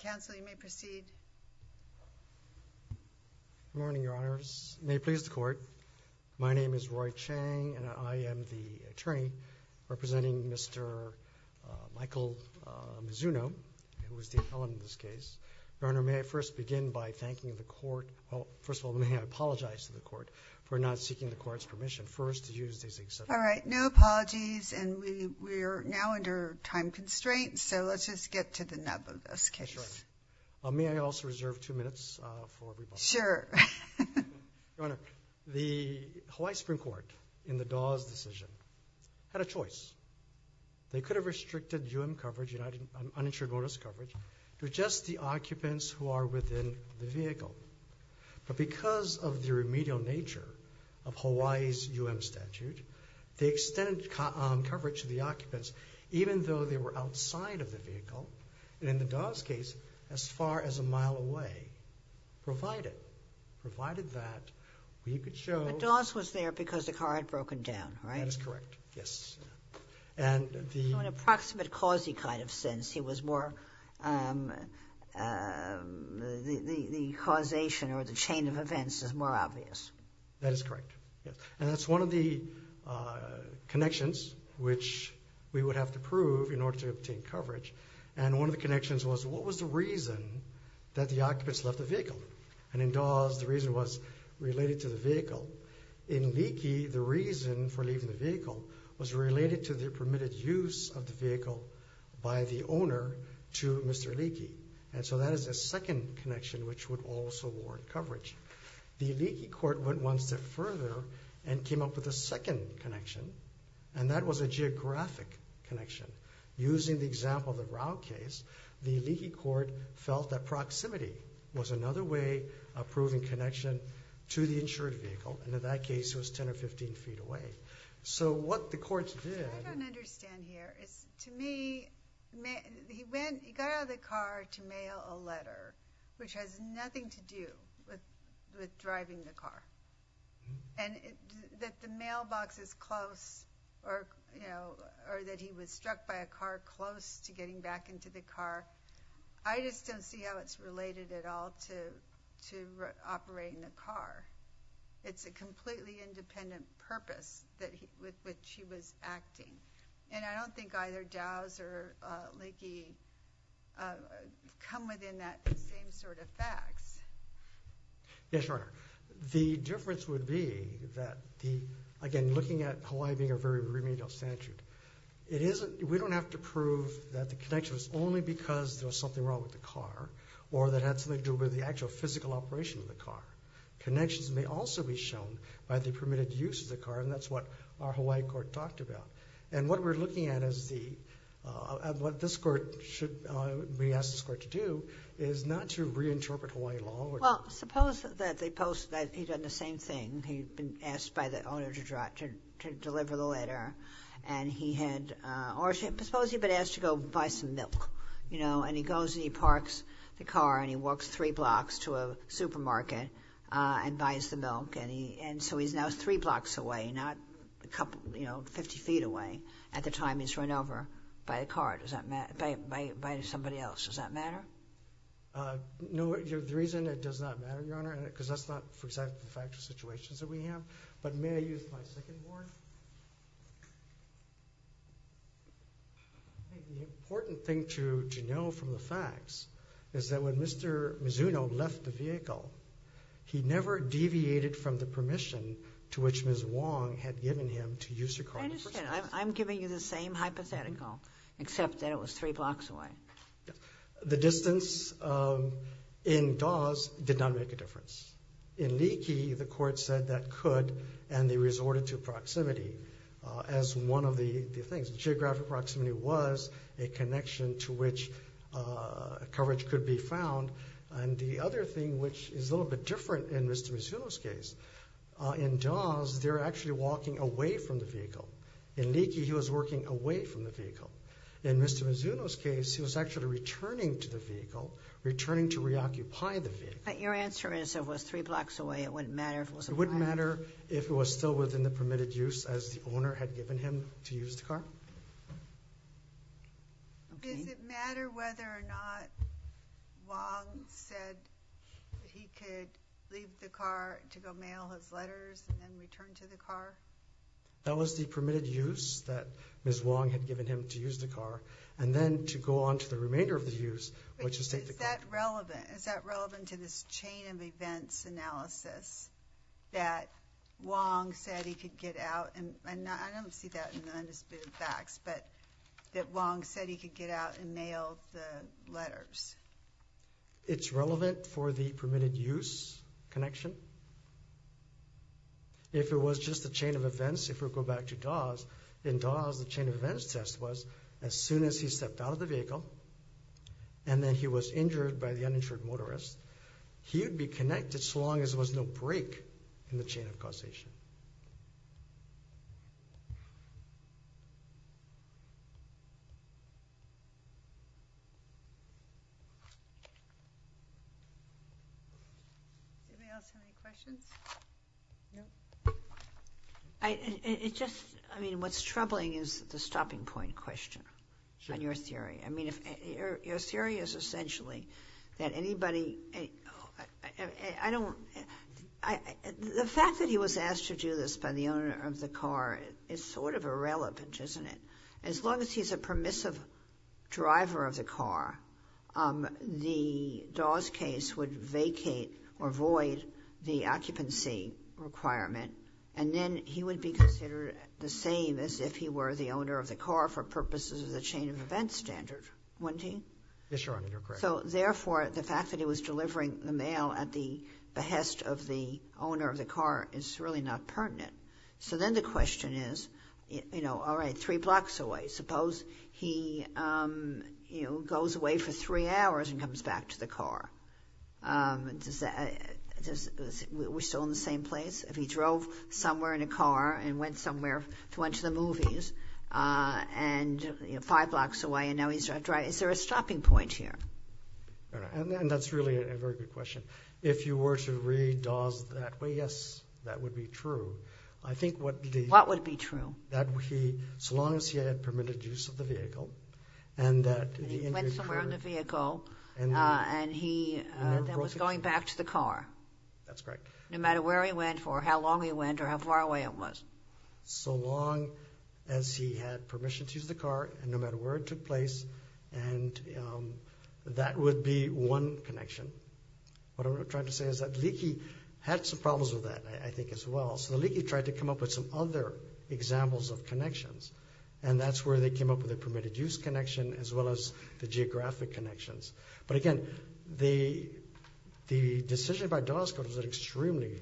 Good morning, Your Honors. May it please the Court, my name is Roy Chang and I am the attorney representing Mr. Michael Mizuno, who is the appellant in this case. Your Honor, may I first begin by thanking the Court, well, first of all, may I apologize to the Court for not seeking the Court's permission first to use these exceptions. All right, no apologies, and we are now under time constraints, so let's just get to the nub of this case. Your Honor, may I also reserve two minutes for rebuttal? Sure. Your Honor, the Hawaii Supreme Court, in the Dawes decision, had a choice. They could have restricted UM coverage, uninsured bonus coverage, to just the occupants who are within the vehicle. But because of the remedial nature of Hawaii's UM statute, they extended coverage to the occupants, even though they were outside of the vehicle, and in the Dawes case, as far as a mile away, provided, provided that we could show... The Dawes was there because the car had broken down, right? That is correct, yes. So in an approximate cause-y kind of sense, he was more, the causation or the chain of events is more obvious. That is correct, yes. And that's one of the connections which we would have to prove in order to obtain coverage, and one of the connections was, what was the reason that the occupants left the vehicle? And in Dawes, the reason was related to the vehicle. In Leakey, the reason was related to the permitted use of the vehicle by the owner to Mr. Leakey, and so that is the second connection which would also warrant coverage. The Leakey court went one step further and came up with a second connection, and that was a geographic connection. Using the example of the Rao case, the Leakey court felt that proximity was another way of proving connection to the insured vehicle, and in that case, it was 10 or 15 feet away. So what the courts did... What I don't understand here is, to me, he got out of the car to mail a letter, which has nothing to do with driving the car, and that the mailbox is close, or that he was struck by a car close to getting back into the car, I just don't see how it's related at all to operating the car. It's a completely independent purpose with which he was acting, and I don't think either Dawes or Leakey come within that same sort of facts. Yes, Your Honor. The difference would be that, again, looking at Hawaii being a very remedial statute, we don't have to prove that the connection was only because there was something wrong with the car, or that had something to do with the actual physical operation of the car. Connections may also be shown by the permitted use of the car, and that's what our Hawaii court talked about. And what we're looking at is the... What this court should... We asked this court to do is not to reinterpret Hawaii law... Well, suppose that they post that he'd done the same thing. He'd been asked by the owner to deliver the letter, and he had... Or suppose he'd been asked to go buy some milk, and he goes and he parks the car, and he walks three blocks to a supermarket and buys the milk, and so he's now three blocks away, not a couple... Fifty feet away at the time he's run over by the car, by somebody else. Does that matter? No. The reason it does not matter, Your Honor, because that's not for example the factual situations that we have, but may I use my second word? The important thing to know from the facts is that when Mr. Mizuno left the vehicle, he never deviated from the permission to which Ms. Wong had given him to use her car in the first place. I understand. I'm giving you the same hypothetical, except that it was three blocks away. The distance in Dawes did not make a difference. In Leakey, the court said that could, and they resorted to proximity as one of the things. Geographic proximity was a connection to which coverage could be found, and the other thing which is a little bit different in Mr. Mizuno's case, in Dawes, they're actually walking away from the vehicle. In Leakey, he was walking away from the vehicle. In Mr. Mizuno's case, he was actually returning to the vehicle, returning to reoccupy the vehicle. But your answer is it was three blocks away, it wouldn't matter if it was a private vehicle? It wouldn't matter if it was still within the permitted use as the owner had given him to use the car. Does it matter whether or not Wong said he could leave the car to go mail his letters and then return to the car? That was the permitted use that Ms. Wong had given him to use the car, and then to go on to the remainder of the use, which is to take the car. Is that relevant? Is that relevant to this chain of events analysis that Wong said he could get out and I don't see that in the undisputed facts, but that Wong said he could get out and mail the letters? It's relevant for the permitted use connection. If it was just a chain of events, if we go back to Dawes, in Dawes, the chain of events test was as soon as he stepped out of the vehicle, and then he was injured by the uninsured motorist, he would be connected so long as there was no break in the chain of causation. What's troubling is the stopping point question on your theory. Your theory is essentially that anybody... The fact that he was asked to do this by the owner of the car is sort of irrelevant, isn't it? As long as he's a permissive driver of the car, the Dawes case would vacate or void the occupancy requirement, and then he would be considered the same as if he were the owner of the car for purposes of the chain of events standard, wouldn't he? Yes, Your Honor, you're correct. So therefore, the fact that he was delivering the mail at the behest of the owner of the car is really not pertinent. So then the question is, all right, three blocks away. Suppose he goes away for three hours and comes back to the car. We're still in the same place? If he drove somewhere in a car and went somewhere to watch the movies five blocks away and now he's driving, is there a stopping point here? And that's really a very good question. If you were to read Dawes that way, yes, that would be true. I think what the... What would be true? That he, so long as he had permitted use of the vehicle and that... He went somewhere in the vehicle and he was going back to the car. That's correct. No matter where he went for how long he went or how far away it was. So long as he had permission to use the car and no matter where it took place and that would be one connection. What I'm trying to say is that Leakey had some problems with that, I think, as well. So Leakey tried to come up with some other examples of connections and that's where they came up with the permitted use connection as well as the geographic connections. But again, the decision by extremely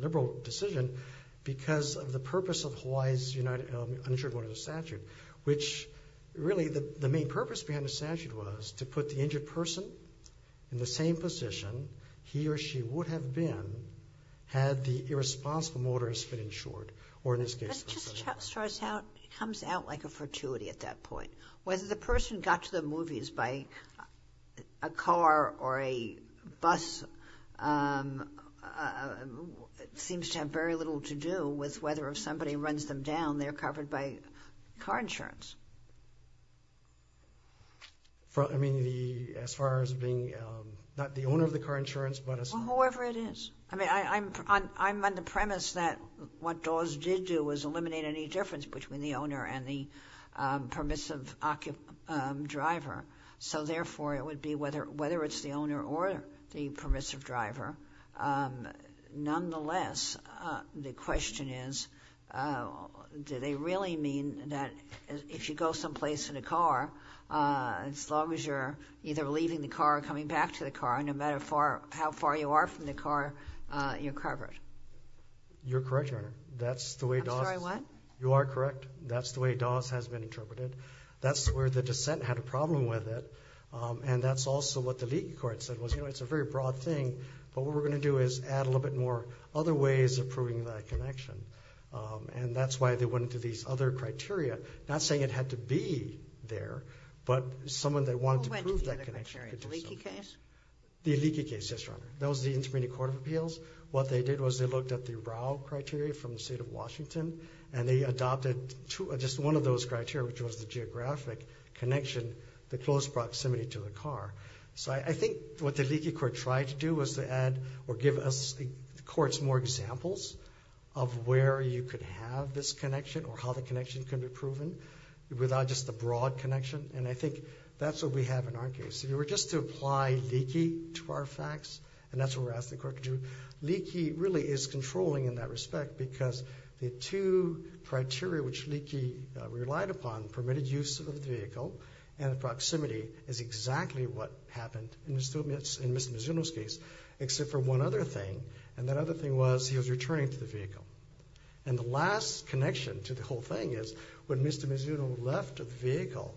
liberal decision because of the purpose of Hawaii's Uninsured Motorist Statute, which really the main purpose behind the statute was to put the injured person in the same position he or she would have been had the irresponsible motorist been insured or in this case... That just comes out like a fortuity at that point. Whether the person got to the movies by a car or a seems to have very little to do with whether if somebody runs them down, they're covered by car insurance. I mean, as far as being not the owner of the car insurance but... Well, whoever it is. I'm on the premise that what Dawes did do was eliminate any difference between the owner and the permissive driver. So therefore, it would be whether it's the owner or the permissive driver. Nonetheless, the question is, do they really mean that if you go someplace in a car, as long as you're either leaving the car or coming back to the car, no matter how far you are from the car, you're covered? You're correct, Your Honor. That's the way Dawes... I'm sorry, what? You are correct. That's the way Dawes has been interpreted. That's where the dissent had a problem with it and that's also what the leaky court said was, you know, it's a very broad thing, but what we're going to do is add a little bit more other ways of proving that connection and that's why they went into these other criteria, not saying it had to be there, but someone that wanted to prove that connection... Who went to the other criteria? The leaky case? The leaky case, yes, Your Honor. That was the Intermediate Court of Appeals. What they did was they looked at the Rau criteria from the state of Washington and they adopted just one of those criteria, which was the geographic connection, the close proximity to the car. So I think what the leaky court tried to do was to add or give us, the courts, more examples of where you could have this connection or how the connection can be proven without just the broad connection and I think that's what we have in our case. If you were just to apply leaky to our facts and that's what we're asking the court to do, leaky really is controlling in that respect because the two criteria which leaky relied upon permitted use of the vehicle and proximity is exactly what happened in Mr. Mizuno's case except for one other thing and that other thing was he was returning to the vehicle. And the last connection to the whole thing is when Mr. Mizuno left the vehicle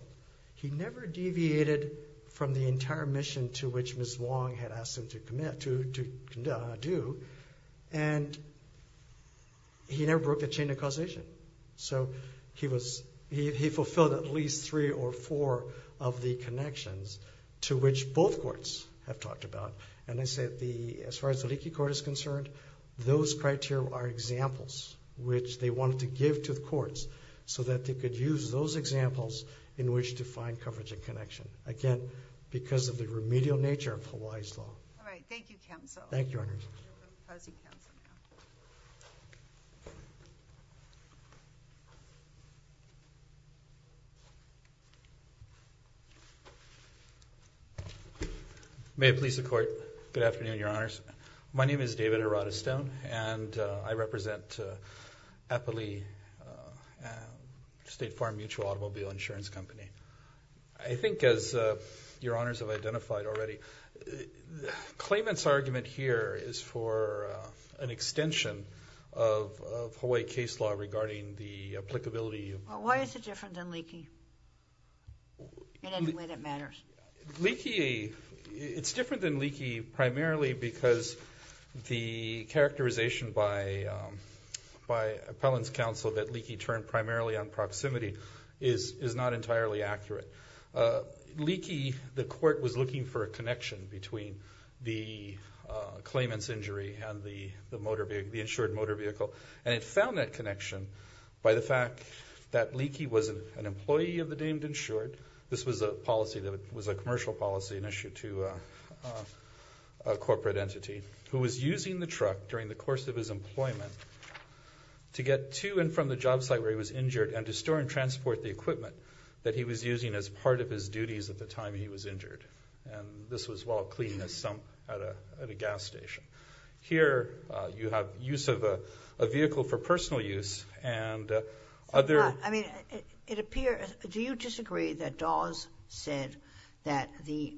he never deviated from the entire mission to which Ms. Wong had asked him to do and he never broke the chain of causation. So he fulfilled at least three or four of the connections to which both courts have talked about and as far as the leaky court is concerned, those criteria are examples which they wanted to give to the courts so that they could use those examples in which to find coverage and connection. Again, because of the remedial nature of Hawaii's law. Thank you. May it please the court. Good afternoon, Your Honors. My name is David Hirata-Stone and I represent Apoli State Farm Mutual Automobile Insurance Company. I think as Your Honors have identified already claimant's argument here is for an extension of Hawaii case law regarding the applicability of... Well why is it different than leaky in any way that matters? Leaky, it's different than leaky primarily because the characterization by appellant's counsel that leaky turned primarily on proximity is not entirely accurate. Leaky the court was looking for a connection between the claimant's injury and the insured motor vehicle and it found that connection by the fact that leaky was an employee of the deemed insured. This was a commercial policy and issue to a corporate entity who was using the truck during the course of his employment to get to and from the job site where he was injured and to store and transport the equipment that he was using as part of his duties at the time he was injured. This was while cleaning a sump at a gas station. Here you have use of a vehicle for personal use and other... I mean it appears... Do you disagree that Dawes said that the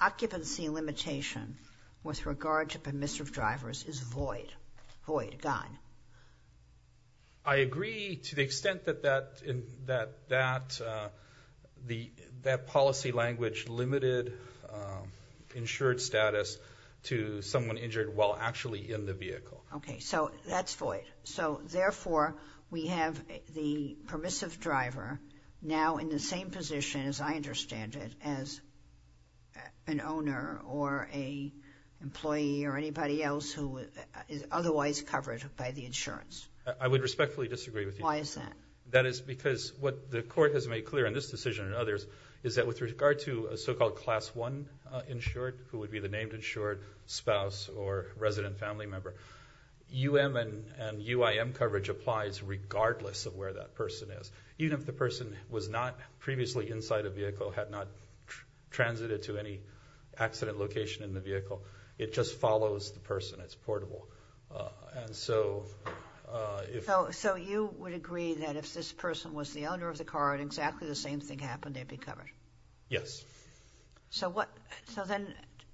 occupancy limitation with regard to permissive drivers is void? Void, gone. I agree to the extent that that policy language limited insured status to someone injured while actually in the vehicle. So that's void. So therefore we have the permissive driver now in the same position as I understand it as an owner or a employee or anybody else who is otherwise covered by the insurance. I would respectfully disagree with you. Why is that? That is because what the court has made clear in this decision and others is that with regard to a so-called class one insured, who would be the named insured spouse or resident family member U.M. and U.I.M. coverage applies regardless of where that person is. Even if the person was not previously inside a vehicle, had not transited to any accident location in the vehicle, it just follows the person. It's portable. And so... So you would agree that if this person was the owner of the car and exactly the same thing happened, they'd be covered? Yes. So what... So then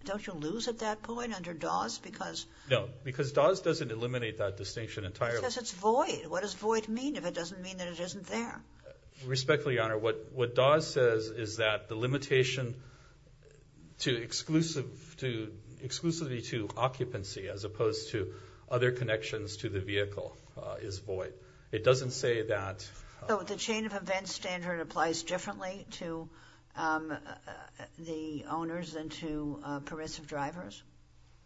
don't you lose at that point under Dawes because... No, because Dawes doesn't eliminate that distinction entirely. It says it's void. What does void mean if it doesn't mean that it isn't there? Respectfully, Your Honor, what Dawes says is that the limitation to exclusive... exclusively to occupancy as opposed to other connections to the vehicle is void. It doesn't say that... So the chain of events standard applies differently to the owners than to pervasive drivers?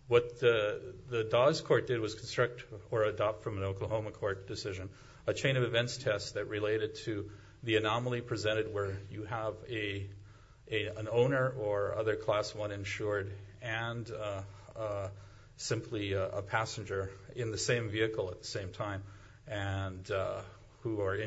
What the Dawes court did was construct or adopt from an Oklahoma court decision a chain of events test that related to the anomaly presented where you have an owner or other Class I insured and simply a passenger in the same vehicle at the same time and who are they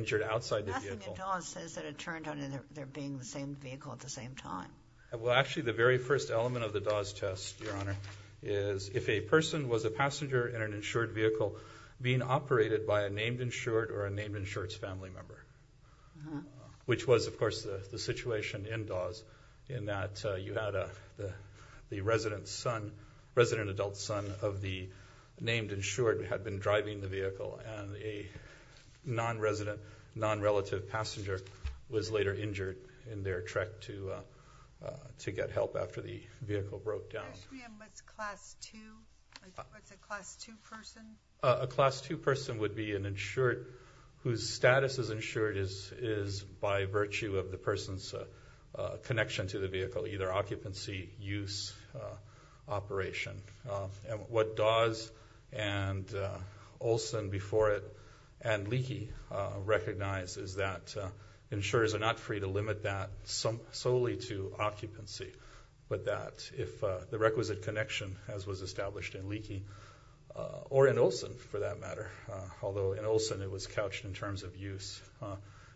being the same vehicle at the same time? Well, actually the very first element of the Dawes test, Your Honor, is if a person was a passenger in an insured vehicle being operated by a named insured or a named insured's family member. Which was, of course, the situation in Dawes in that you had the resident adult son of the named insured had been driving the vehicle and a non-resident non-relative passenger was later injured in their trek to get help after the vehicle broke down. What's Class II? What's a Class II person? A Class II person would be an insured whose status as insured is by virtue of the person's connection to the vehicle. Either occupancy, use, operation. What Dawes and Olson before it and Leakey recognize is that insurers are not free to limit that solely to occupancy, but that if the requisite connection, as was established in Leakey or in Olson for that matter, although in Olson it was couched in terms of use,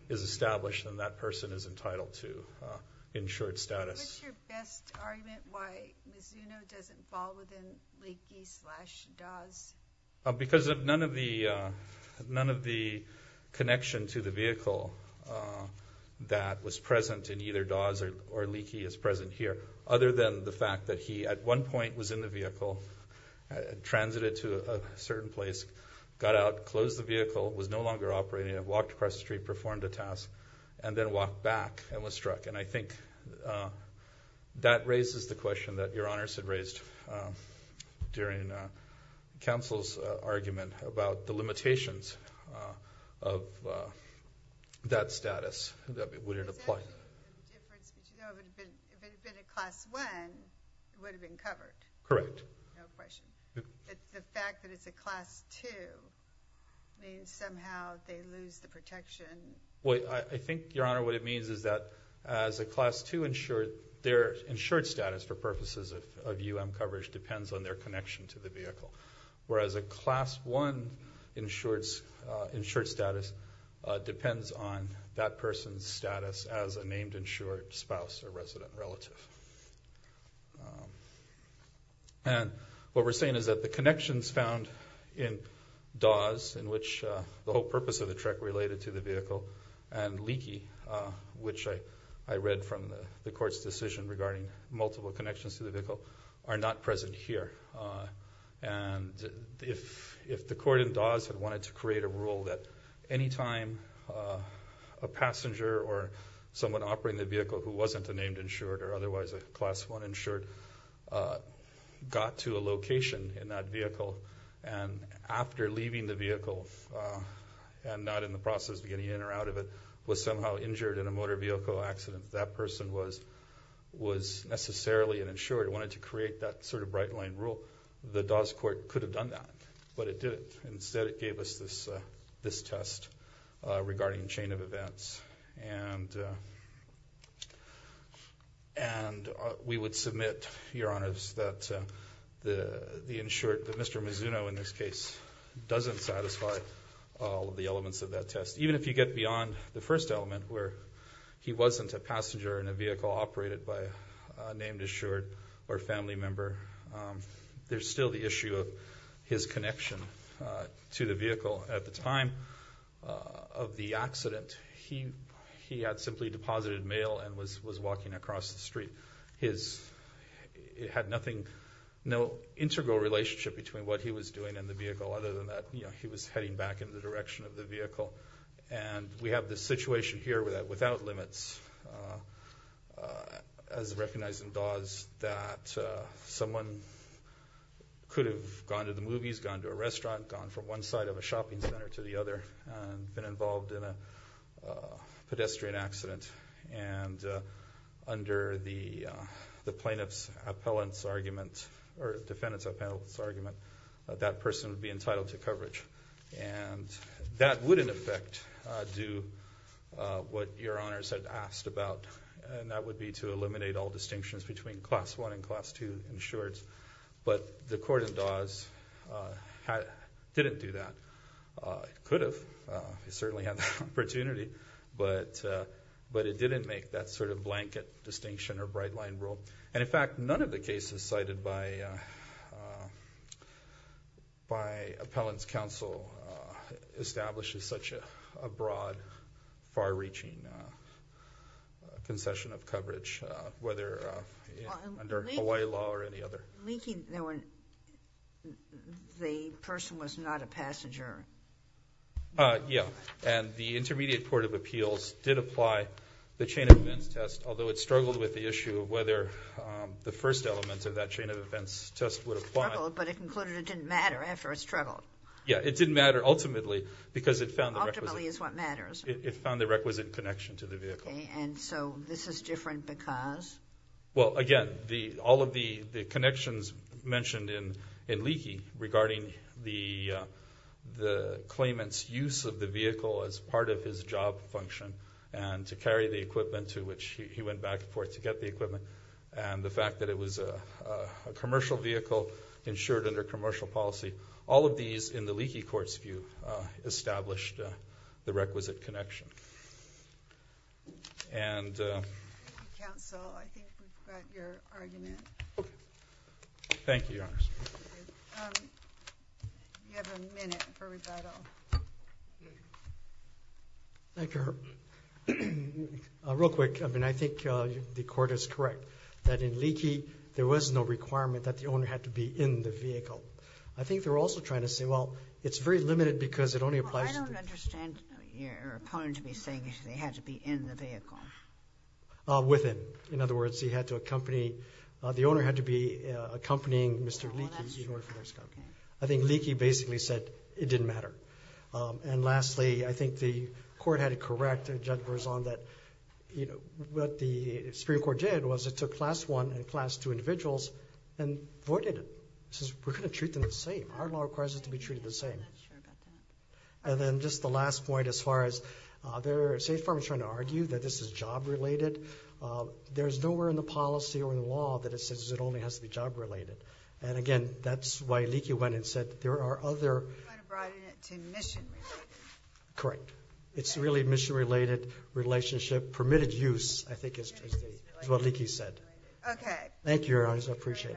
is established and that person is entitled to insured status. What's your best argument why Mizuno doesn't fall within Leakey slash Dawes? Because of none of the connection to the vehicle that was present in either Dawes or Leakey as present here, other than the fact that he at one point was in the vehicle, transited to a certain place got out, closed the vehicle, was no longer operating, walked across the street, performed a task, and then walked back and was struck. And I think that raises the question that Your Honors had raised during Counsel's argument about the limitations of that status. Would it apply? If it had been a Class 1, it would have been covered. Correct. No question. The fact that it's a Class 2 means somehow they lose the protection. Well, I think Your Honor, what it means is that as a Class 2 insured, their insured status for purposes of UM coverage depends on their connection to the vehicle. Whereas a Class 1 insured status depends on that person's status as a named insured spouse or resident relative. And what we're saying is that the connections found in Dawes, in which the whole purpose of the trek related to the vehicle, and Leakey, which I read from the court's decision regarding multiple connections to the vehicle, are not present here. And if the court in Dawes had wanted to create a rule that any time a passenger or someone operating the vehicle who wasn't a named insured or otherwise a Class 1 insured got to a location in that vehicle, and after leaving the vehicle and not in the process of getting in or out of it, was somehow injured in a motor vehicle accident, that person was necessarily an insured. It wanted to create that sort of bright line rule. The Dawes court could have done that, but it didn't. Instead it gave us this test regarding chain of events. And we would submit, Your Honors, that the insured, that Mr. Mizuno in this case doesn't satisfy all of the elements of that test. Even if you get beyond the first element, where he wasn't a passenger in a vehicle operated by a named insured or family member, there's still the issue of his connection to the vehicle at the time of the accident. He had simply deposited mail and was walking across the street. It had nothing, no integral relationship between what he was doing and the vehicle, other than that he was heading back in the direction of the vehicle. And we have this situation here without limits. As recognized in Dawes that someone could have gone to the movies, gone to a restaurant, gone from one side of a shopping center to the other and been involved in a pedestrian accident. And under the plaintiff's defendant's appellant's argument, that person would be entitled to coverage. And that would in effect do what Your Honors had asked about. And that would be to eliminate all distinctions between Class 1 and Class 2 insureds. But the court in Dawes didn't do that. It could have. It certainly had the opportunity. But it didn't make that sort of blanket distinction or bright line rule. And in fact, none of the cases cited by appellant's counsel establishes such a broad, far-reaching concession of coverage. Whether under Hawaii law or any other. The person was not a passenger. Yeah. And the Intermediate Court of Appeals did apply the chain of events test. Although it struggled with the issue of whether the first element of that chain of events test would apply. But it concluded it didn't matter after it struggled. Yeah. It didn't matter ultimately because it found the requisite. Ultimately is what matters. It found the requisite connection to the vehicle. Okay. And so this is different because? Well, again all of the connections mentioned in Leakey regarding the claimant's use of the vehicle as part of his job function and to carry the equipment to which he went back and forth to get the equipment. And the fact that it was a commercial vehicle insured under commercial policy. All of these in the Leakey Court's view established the requisite connection. And Thank you counsel. I think we've got your argument. Thank you, Your Honor. You have a minute for rebuttal. Real quick. I mean I think the court is I think there was no requirement that the owner had to be in the vehicle. I think they were also trying to say, well, it's very limited because it only applies I don't understand your opponent to be saying they had to be in the vehicle. Within. In other words, he had to accompany, the owner had to be accompanying Mr. Leakey in order for this to happen. I think Leakey basically said it didn't matter. And lastly, I think the court had to correct and judge Verzon that what the Supreme Court did was it took class one and class two individuals and voided it. It says we're going to treat them the same. Our law requires us to be treated the same. And then just the last point as far as, State Farm is trying to argue that this is job related. There's nowhere in the policy or in the law that it says it only has to be job related. And again, that's why Leakey went and said there are other Correct. It's really mission related relationship permitted use I think is what Leakey said. Thank you Your Honor. I appreciate it.